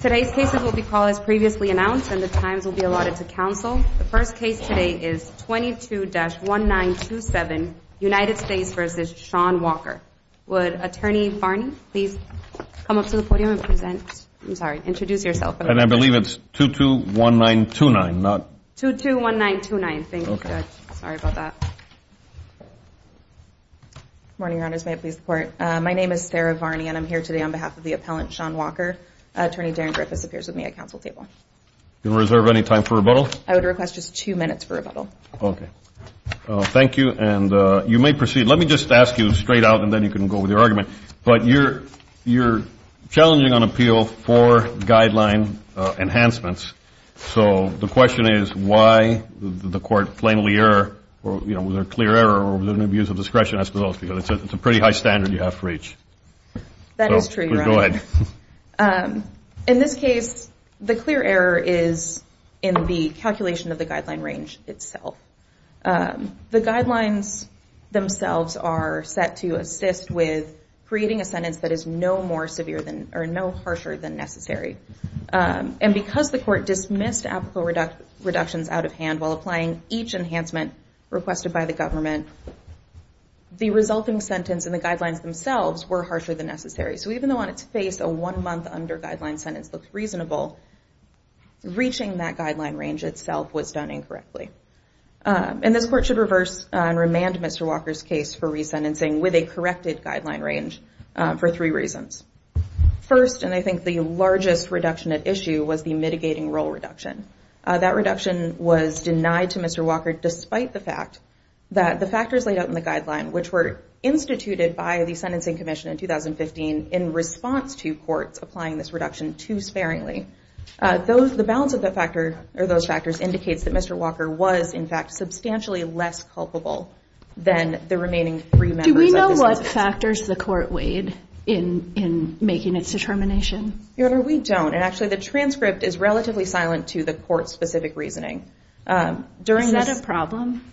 Today's cases will be called as previously announced, and the times will be allotted to counsel. The first case today is 22-1927, United States v. Sean Walker. Would Attorney Varney please come up to the podium and present? I'm sorry, introduce yourself. And I believe it's 22-1929, not 22-1929. Thank you, Judge. Sorry about that. Good morning, Your Honors. May it please the Court? My name is Sarah Varney, and I'm here today on behalf of the appellant, Sean Walker. Attorney Darren Griffiths appears with me at counsel table. Do you reserve any time for rebuttal? I would request just two minutes for rebuttal. Okay. Thank you, and you may proceed. Let me just ask you straight out, and then you can go with your argument. But you're challenging on appeal for guideline enhancements, so the question is why the court plainly error or, you know, was there a clear error or was there an abuse of discretion as to those? Because it's a pretty high standard you have to reach. That is true, Your Honor. Go ahead. In this case, the clear error is in the calculation of the guideline range itself. The guidelines themselves are set to assist with creating a sentence that is no more severe than or no harsher than necessary. And because the court dismissed applicable reductions out of hand while applying each enhancement requested by the government, the resulting sentence and the guidelines themselves were harsher than necessary. So even though on its face a one-month under-guideline sentence looks reasonable, reaching that guideline range itself was done incorrectly. And this court should reverse and remand Mr. Walker's case for resentencing with a corrected guideline range for three reasons. First, and I think the largest reduction at issue, was the mitigating role reduction. That reduction was denied to Mr. Walker despite the fact that the factors laid out in the guideline, which were instituted by the Sentencing Commission in 2015 in response to courts applying this reduction too sparingly. The balance of those factors indicates that Mr. Walker was, in fact, substantially less culpable than the remaining three members of the sentence. What factors the court weighed in making its determination? Your Honor, we don't. And actually the transcript is relatively silent to the court's specific reasoning. Is that a problem?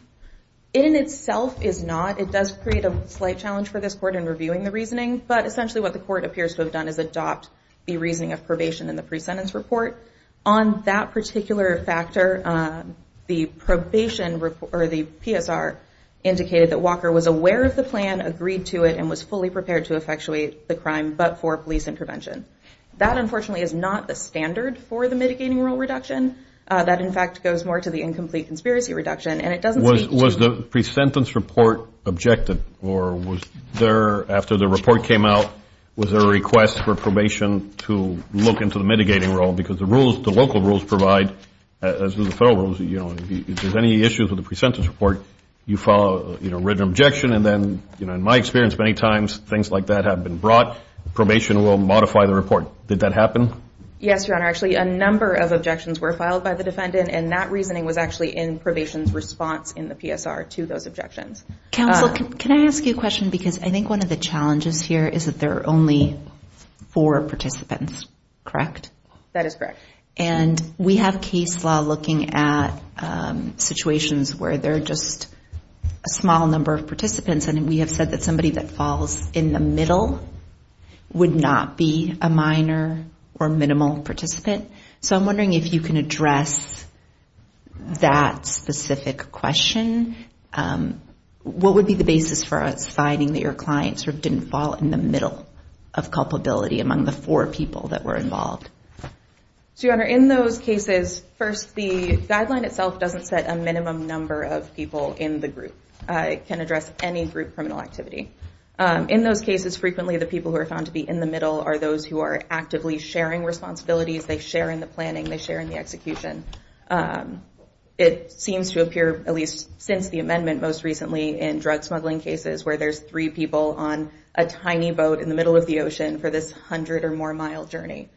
It in itself is not. It does create a slight challenge for this court in reviewing the reasoning. But essentially what the court appears to have done is adopt the reasoning of probation in the pre-sentence report. On that particular factor, the probation report, or the PSR, indicated that Walker was aware of the plan, agreed to it, and was fully prepared to effectuate the crime but for police and prevention. That, unfortunately, is not the standard for the mitigating role reduction. That, in fact, goes more to the incomplete conspiracy reduction, and it doesn't speak to- Was the pre-sentence report objective, or was there, after the report came out, was there a request for probation to look into the mitigating role? Because the rules, the local rules provide, as do the federal rules, if there's any issues with the pre-sentence report, you file a written objection, and then, in my experience, many times things like that have been brought. Probation will modify the report. Did that happen? Yes, Your Honor. Actually, a number of objections were filed by the defendant, and that reasoning was actually in probation's response in the PSR to those objections. Counsel, can I ask you a question? Because I think one of the challenges here is that there are only four participants, correct? That is correct. And we have case law looking at situations where there are just a small number of participants, and we have said that somebody that falls in the middle would not be a minor or minimal participant. So I'm wondering if you can address that specific question. What would be the basis for citing that your client sort of didn't fall in the middle of culpability among the four people that were involved? So, Your Honor, in those cases, first, the guideline itself doesn't set a minimum number of people in the group. It can address any group criminal activity. In those cases, frequently the people who are found to be in the middle are those who are actively sharing responsibilities. They share in the planning. They share in the execution. It seems to appear, at least since the amendment most recently in drug smuggling cases, where there's three people on a tiny boat in the middle of the ocean for this 100-or-more-mile journey.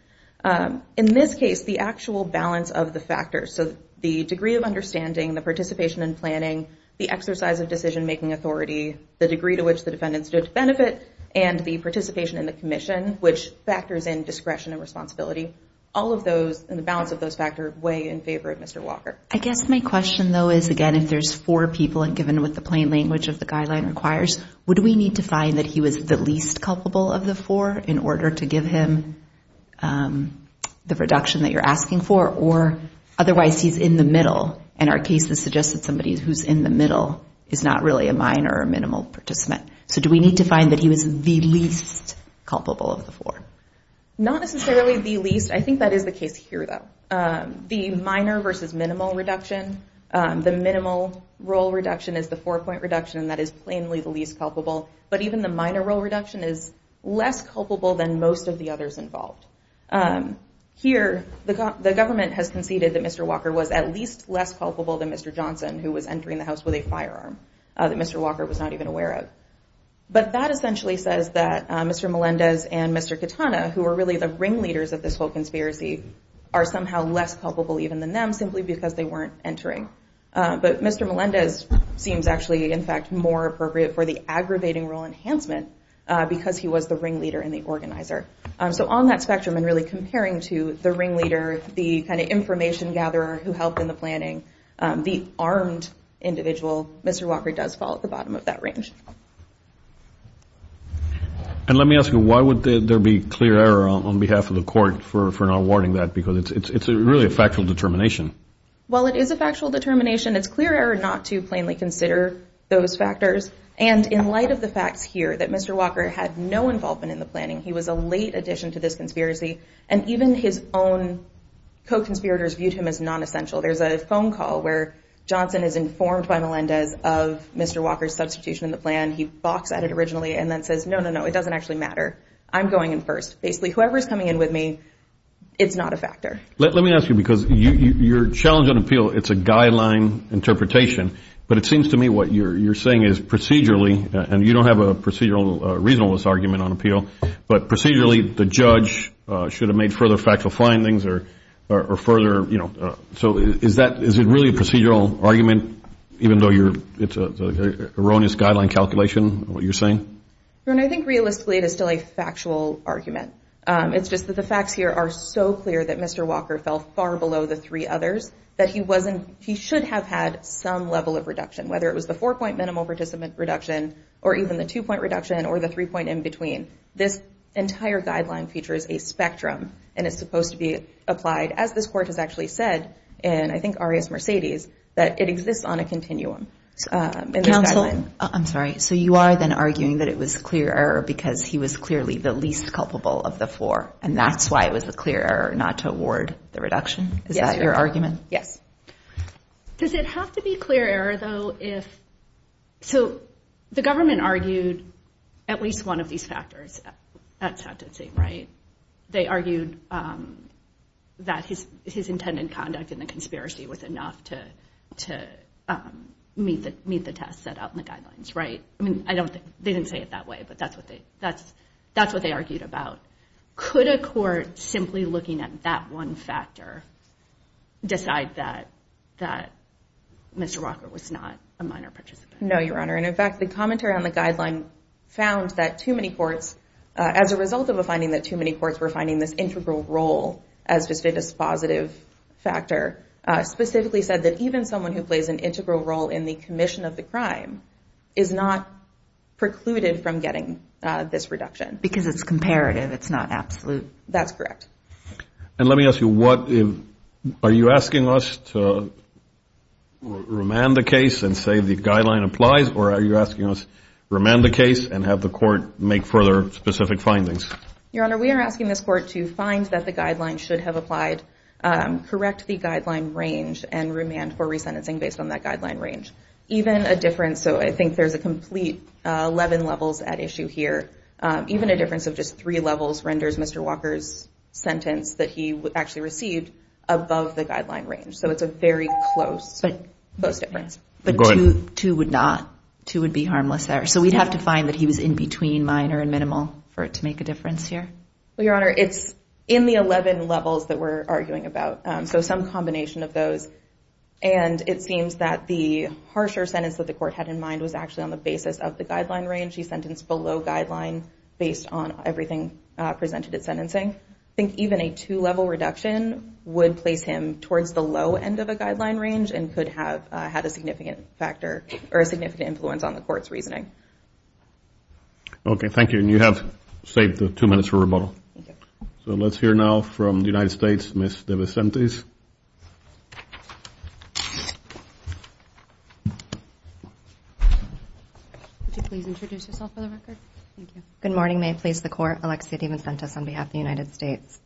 In this case, the actual balance of the factors, so the degree of understanding, the participation in planning, the exercise of decision-making authority, the degree to which the defendant stood to benefit, and the participation in the commission, which factors in discretion and responsibility, all of those, and the balance of those factors weigh in favor of Mr. Walker. I guess my question, though, is, again, if there's four people, and given what the plain language of the guideline requires, would we need to find that he was the least culpable of the four in order to give him the reduction that you're asking for, or otherwise he's in the middle, and our cases suggest that somebody who's in the middle is not really a minor or minimal participant. So do we need to find that he was the least culpable of the four? Not necessarily the least. I think that is the case here, though. The minor versus minimal reduction, the minimal role reduction is the four-point reduction, and that is plainly the least culpable. But even the minor role reduction is less culpable than most of the others involved. Here, the government has conceded that Mr. Walker was at least less culpable than Mr. Johnson, who was entering the house with a firearm that Mr. Walker was not even aware of. But that essentially says that Mr. Melendez and Mr. Katana, who were really the ringleaders of this whole conspiracy, are somehow less culpable even than them, simply because they weren't entering. But Mr. Melendez seems actually, in fact, more appropriate for the aggravating role enhancement because he was the ringleader and the organizer. So on that spectrum, and really comparing to the ringleader, the kind of information gatherer who helped in the planning, the armed individual, Mr. Walker does fall at the bottom of that range. And let me ask you, why would there be clear error on behalf of the court for not warning that? Because it's really a factual determination. Well, it is a factual determination. It's clear error not to plainly consider those factors. And in light of the facts here that Mr. Walker had no involvement in the planning, he was a late addition to this conspiracy. And even his own co-conspirators viewed him as nonessential. There's a phone call where Johnson is informed by Melendez of Mr. Walker's substitution in the plan. He balks at it originally and then says, no, no, no, it doesn't actually matter. I'm going in first. Basically, whoever is coming in with me, it's not a factor. Let me ask you, because your challenge on appeal, it's a guideline interpretation. But it seems to me what you're saying is procedurally, and you don't have a procedural reasonableness argument on appeal, but procedurally the judge should have made further factual findings or further, you know. So is it really a procedural argument, even though it's an erroneous guideline calculation, what you're saying? I think realistically it is still a factual argument. It's just that the facts here are so clear that Mr. Walker fell far below the three others that he should have had some level of reduction, whether it was the four-point minimal participant reduction or even the two-point reduction or the three-point in-between. This entire guideline features a spectrum, and it's supposed to be applied, as this Court has actually said in, I think, Arias-Mercedes, that it exists on a continuum. Counsel? I'm sorry. So you are then arguing that it was clear error because he was clearly the least culpable of the four, and that's why it was a clear error not to award the reduction? Yes. Is that your argument? Yes. Does it have to be clear error, though, if— so the government argued at least one of these factors at sentencing, right? They argued that his intended conduct in the conspiracy was enough to meet the test set out in the guidelines, right? I mean, they didn't say it that way, but that's what they argued about. Could a court simply looking at that one factor decide that Mr. Walker was not a minor participant? No, Your Honor. And, in fact, the commentary on the guideline found that too many courts, as a result of a finding that too many courts were finding this integral role as just a dispositive factor, specifically said that even someone who plays an integral role in the commission of the crime is not precluded from getting this reduction. Because it's comparative. It's not absolute. That's correct. And let me ask you, are you asking us to remand the case and say the guideline applies, or are you asking us to remand the case and have the court make further specific findings? Your Honor, we are asking this court to find that the guideline should have applied, correct the guideline range, and remand for resentencing based on that guideline range. So I think there's a complete 11 levels at issue here. Even a difference of just three levels renders Mr. Walker's sentence that he actually received above the guideline range. So it's a very close difference. But two would not. Two would be harmless errors. So we'd have to find that he was in between minor and minimal for it to make a difference here? Well, Your Honor, it's in the 11 levels that we're arguing about. So some combination of those. And it seems that the harsher sentence that the court had in mind was actually on the basis of the guideline range. He sentenced below guideline based on everything presented at sentencing. I think even a two-level reduction would place him towards the low end of a guideline range and could have had a significant factor or a significant influence on the court's reasoning. Okay, thank you. And you have saved the two minutes for rebuttal. Thank you. So let's hear now from the United States, Ms. DeVincentes. Would you please introduce yourself for the record? Thank you. Good morning, may it please the Court. Alexia DeVincentes on behalf of the United States.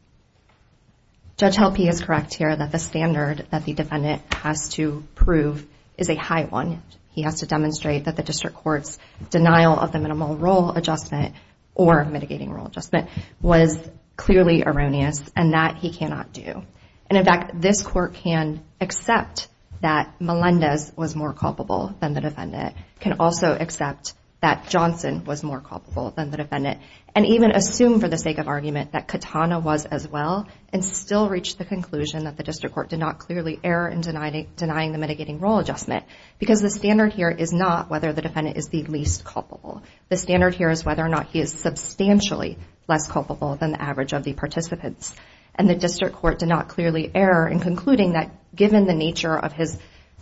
Judge Helpe is correct here that the standard that the defendant has to prove is a high one. He has to demonstrate that the district court's denial of the minimal role adjustment or mitigating role adjustment was clearly erroneous and that he cannot do. And, in fact, this Court can accept that Melendez was more culpable than the defendant. It can also accept that Johnson was more culpable than the defendant and even assume for the sake of argument that Katana was as well and still reach the conclusion that the district court did not clearly err in denying the mitigating role adjustment because the standard here is not whether the defendant is the least culpable. The standard here is whether or not he is substantially less culpable than the average of the participants. And the district court did not clearly err in concluding that given the nature of his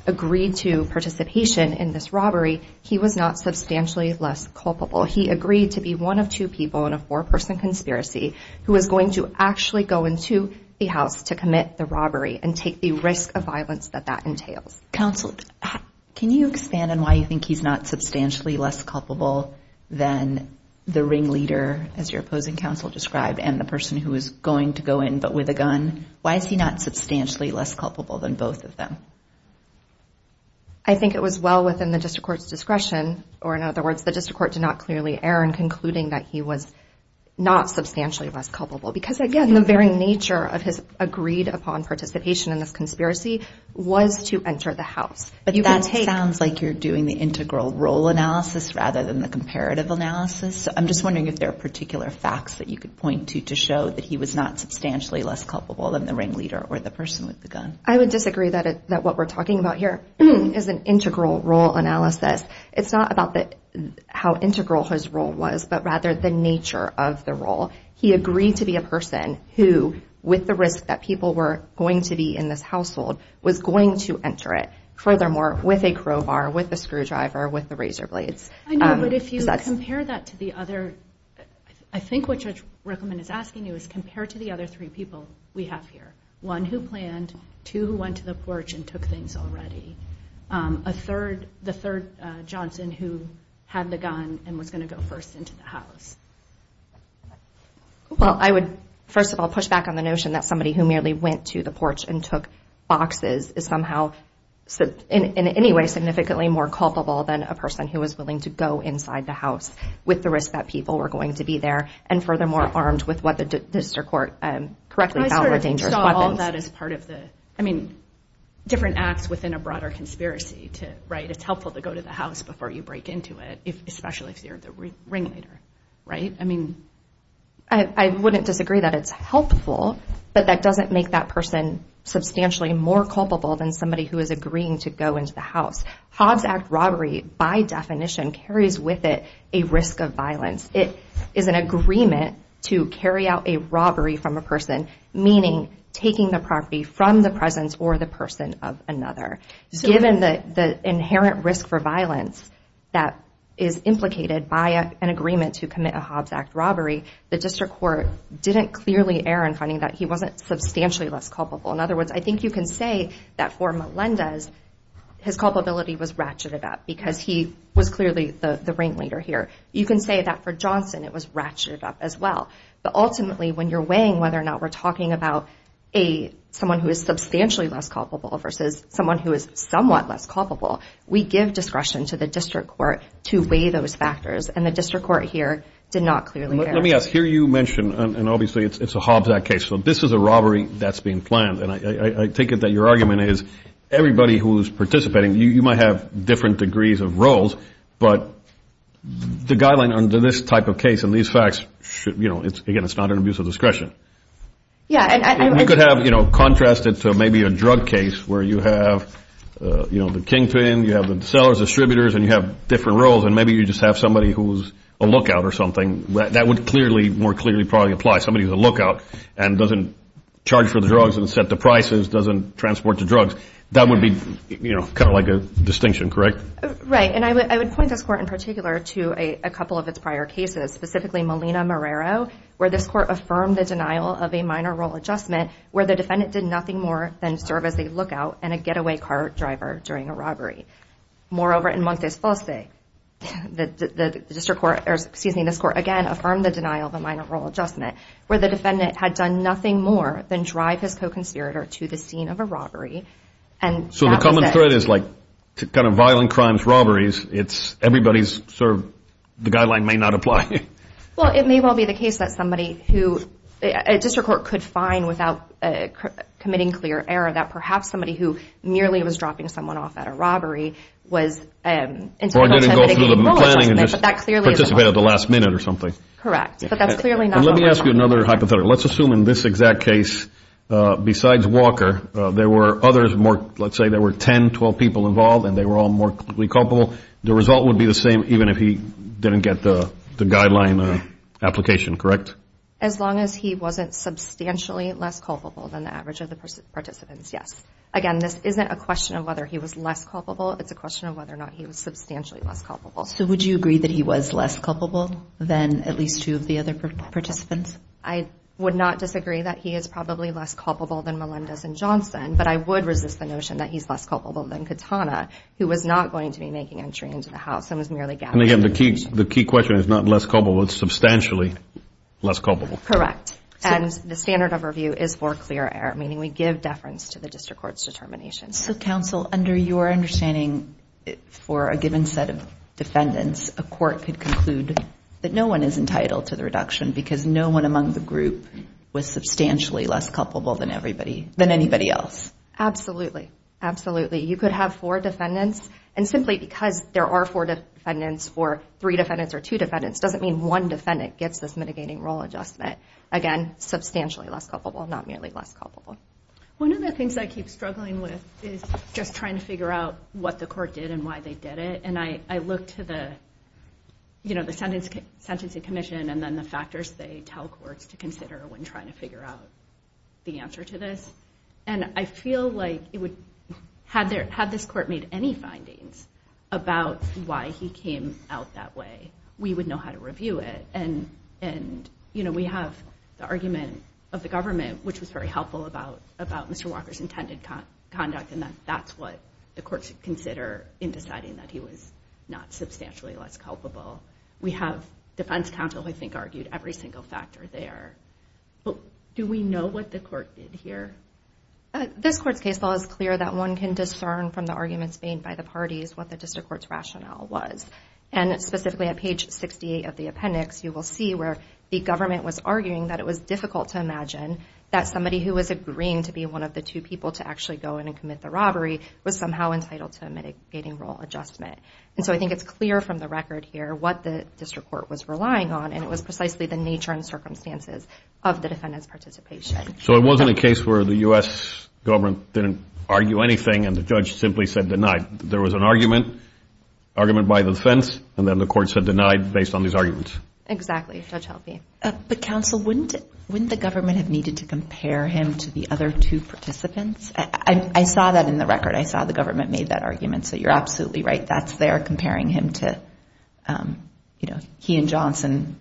agreed-to participation in this robbery, he was not substantially less culpable. He agreed to be one of two people in a four-person conspiracy who was going to actually go into the house to commit the robbery and take the risk of violence that that entails. Counsel, can you expand on why you think he's not substantially less culpable than the ringleader, as your opposing counsel described, and the person who is going to go in but with a gun? Why is he not substantially less culpable than both of them? I think it was well within the district court's discretion, or in other words, the district court did not clearly err in concluding that he was not substantially less culpable because, again, the very nature of his agreed-upon participation in this conspiracy was to enter the house. But that sounds like you're doing the integral role analysis rather than the comparative analysis. I'm just wondering if there are particular facts that you could point to to show that he was not substantially less culpable than the ringleader or the person with the gun. I would disagree that what we're talking about here is an integral role analysis. It's not about how integral his role was, but rather the nature of the role. He agreed to be a person who, with the risk that people were going to be in this household, was going to enter it. Furthermore, with a crowbar, with a screwdriver, with the razor blades. I know, but if you compare that to the other, I think what Judge Rickleman is asking you is compare it to the other three people we have here, one who planned, two who went to the porch and took things already, a third, the third Johnson who had the gun and was going to go first into the house. Well, I would first of all push back on the notion that somebody who merely went to the porch and took boxes is somehow, in any way, significantly more culpable than a person who was willing to go inside the house with the risk that people were going to be there, and furthermore, armed with what the district court correctly found were dangerous weapons. I mean, different acts within a broader conspiracy, right? It's helpful to go to the house before you break into it, especially if you're the ringleader, right? I wouldn't disagree that it's helpful, but that doesn't make that person substantially more culpable than somebody who is agreeing to go into the house. Hobbs Act robbery, by definition, carries with it a risk of violence. It is an agreement to carry out a robbery from a person, meaning taking the property from the presence or the person of another. Given the inherent risk for violence that is implicated by an agreement to commit a Hobbs Act robbery, the district court didn't clearly err in finding that he wasn't substantially less culpable. In other words, I think you can say that for Melendez, his culpability was ratcheted up because he was clearly the ringleader here. You can say that for Johnson, it was ratcheted up as well. But ultimately, when you're weighing whether or not we're talking about someone who is substantially less culpable versus someone who is somewhat less culpable, we give discretion to the district court to weigh those factors, and the district court here did not clearly err. Let me ask, here you mention, and obviously it's a Hobbs Act case, so this is a robbery that's being planned, and I take it that your argument is everybody who is participating, you might have different degrees of roles, but the guideline under this type of case and these facts, again, it's not an abuse of discretion. You could contrast it to maybe a drug case where you have the kingpin, you have the sellers, distributors, and you have different roles, and maybe you just have somebody who's a lookout or something. That would more clearly probably apply. Somebody who's a lookout and doesn't charge for the drugs and set the prices, doesn't transport the drugs, that would be kind of like a distinction, correct? Right, and I would point this court in particular to a couple of its prior cases, specifically Molina-Morero, where this court affirmed the denial of a minor role adjustment where the defendant did nothing more than serve as a lookout and a getaway car driver during a robbery. Moreover, in Montes-Fossey, the district court, or excuse me, this court again affirmed the denial of a minor role adjustment where the defendant had done nothing more than drive his co-conspirator to the scene of a robbery. So the common thread is like kind of violent crimes, robberies, it's everybody's sort of the guideline may not apply. Well, it may well be the case that somebody who a district court could find without committing clear error that perhaps somebody who merely was dropping someone off at a robbery was entitled to a mitigated role adjustment, but that clearly is not. Participated at the last minute or something. Correct, but that's clearly not what we're talking about. Let me ask you another hypothetical. Let's assume in this exact case, besides Walker, there were others more, let's say there were 10, 12 people involved and they were all more culpable. The result would be the same even if he didn't get the guideline application, correct? As long as he wasn't substantially less culpable than the average of the participants, yes. Again, this isn't a question of whether he was less culpable, it's a question of whether or not he was substantially less culpable. So would you agree that he was less culpable than at least two of the other participants? I would not disagree that he is probably less culpable than Melendez and Johnson, but I would resist the notion that he's less culpable than Katana, who was not going to be making entry into the house and was merely gathering information. And again, the key question is not less culpable, but substantially less culpable. Correct, and the standard of review is for clear error, meaning we give deference to the district court's determination. So, counsel, under your understanding for a given set of defendants, a court could conclude that no one is entitled to the reduction because no one among the group was substantially less culpable than anybody else. Absolutely, absolutely. You could have four defendants, and simply because there are four defendants or three defendants or two defendants doesn't mean one defendant gets this mitigating role adjustment. Again, substantially less culpable, not merely less culpable. One of the things I keep struggling with is just trying to figure out what the court did and why they did it, and I look to the, you know, the sentencing commission and then the factors they tell courts to consider when trying to figure out the answer to this, and I feel like it would, had this court made any findings about why he came out that way, we would know how to review it. And, you know, we have the argument of the government, which was very helpful about Mr. Walker's intended conduct, and that's what the court should consider in deciding that he was not substantially less culpable. We have defense counsel who I think argued every single factor there. But do we know what the court did here? This court's case law is clear that one can discern from the arguments made by the parties what the district court's rationale was, and specifically at page 68 of the appendix, you will see where the government was arguing that it was difficult to imagine that somebody who was agreeing to be one of the two people to actually go in and commit the robbery was somehow entitled to a mitigating role adjustment. And so I think it's clear from the record here what the district court was relying on, and it was precisely the nature and circumstances of the defendant's participation. So it wasn't a case where the U.S. government didn't argue anything and the judge simply said denied. There was an argument, argument by the defense, and then the court said denied based on these arguments. Exactly. The judge helped me. But, counsel, wouldn't the government have needed to compare him to the other two participants? I saw that in the record. I saw the government made that argument, so you're absolutely right. That's there comparing him to, you know, he and Johnson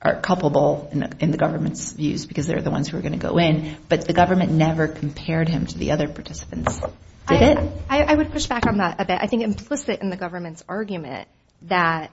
are culpable in the government's views because they're the ones who are going to go in. But the government never compared him to the other participants, did it? I would push back on that a bit. I think implicit in the government's argument that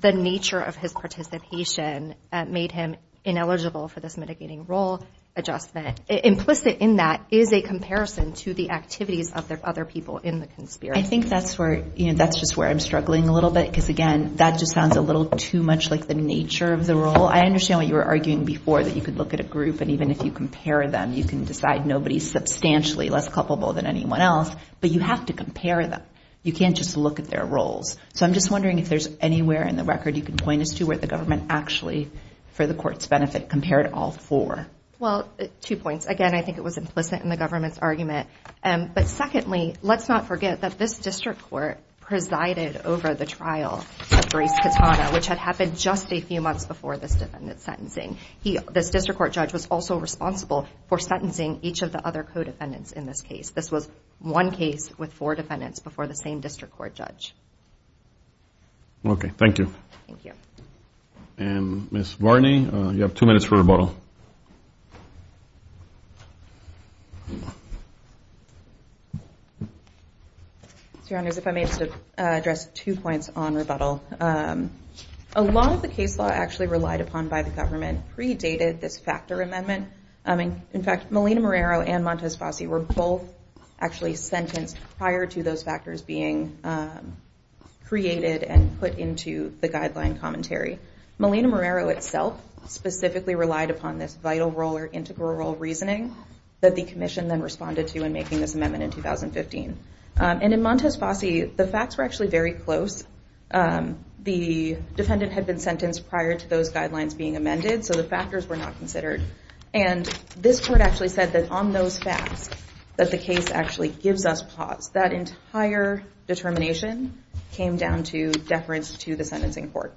the nature of his participation made him ineligible for this mitigating role adjustment, implicit in that is a comparison to the activities of the other people in the conspiracy. I think that's where, you know, that's just where I'm struggling a little bit because, again, that just sounds a little too much like the nature of the role. I understand what you were arguing before, that you could look at a group and even if you compare them you can decide nobody's substantially less culpable than anyone else, but you have to compare them. You can't just look at their roles. So I'm just wondering if there's anywhere in the record you can point us to where the government actually, for the court's benefit, compared all four. Well, two points. Again, I think it was implicit in the government's argument. But secondly, let's not forget that this district court presided over the trial of Brace Katana, which had happened just a few months before this defendant's sentencing. This district court judge was also responsible for sentencing each of the other co-defendants in this case. This was one case with four defendants before the same district court judge. Okay. Thank you. Thank you. And Ms. Varney, you have two minutes for rebuttal. Your Honors, if I may just address two points on rebuttal. A lot of the case law actually relied upon by the government predated this factor amendment. In fact, Melina Marrero and Montes Fossey were both actually sentenced prior to those factors being created and put into the guideline commentary. Melina Marrero itself specifically relied upon this vital role or integral role reasoning that the commission then responded to in making this amendment in 2015. And in Montes Fossey, the facts were actually very close. The defendant had been sentenced prior to those guidelines being amended, so the factors were not considered. And this court actually said that on those facts that the case actually gives us pause. That entire determination came down to deference to the sentencing court.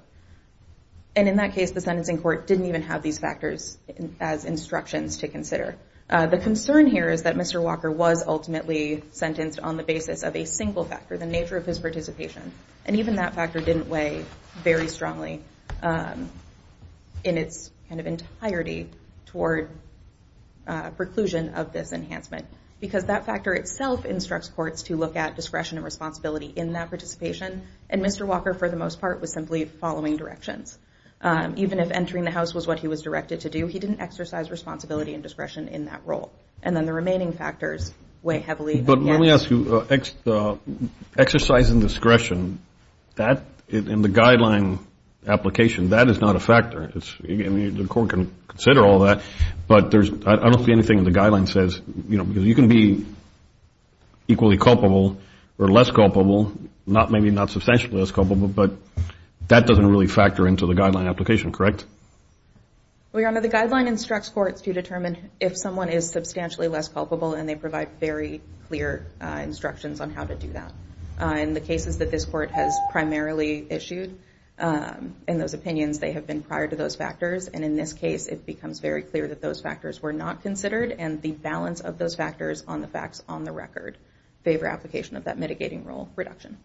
And in that case, the sentencing court didn't even have these factors as instructions to consider. The concern here is that Mr. Walker was ultimately sentenced on the basis of a single factor, the nature of his participation. And even that factor didn't weigh very strongly in its kind of entirety toward preclusion of this enhancement because that factor itself instructs courts to look at discretion and responsibility in that participation. And Mr. Walker, for the most part, was simply following directions. Even if entering the house was what he was directed to do, he didn't exercise responsibility and discretion in that role. And then the remaining factors weigh heavily. But let me ask you, exercise and discretion, in the guideline application, that is not a factor. The court can consider all that, but I don't see anything in the guideline that says, you can be equally culpable or less culpable, maybe not substantially less culpable, but that doesn't really factor into the guideline application, correct? Well, Your Honor, the guideline instructs courts to determine if someone is substantially less culpable and they provide very clear instructions on how to do that. In the cases that this court has primarily issued, in those opinions, they have been prior to those factors. And in this case, it becomes very clear that those factors were not considered, and the balance of those factors on the facts on the record favor application of that mitigating role reduction.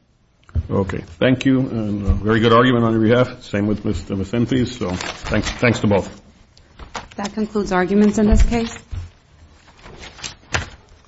Okay. Thank you. And a very good argument on your behalf. Same with Ms. Simphey's. So thanks to both. That concludes arguments in this case.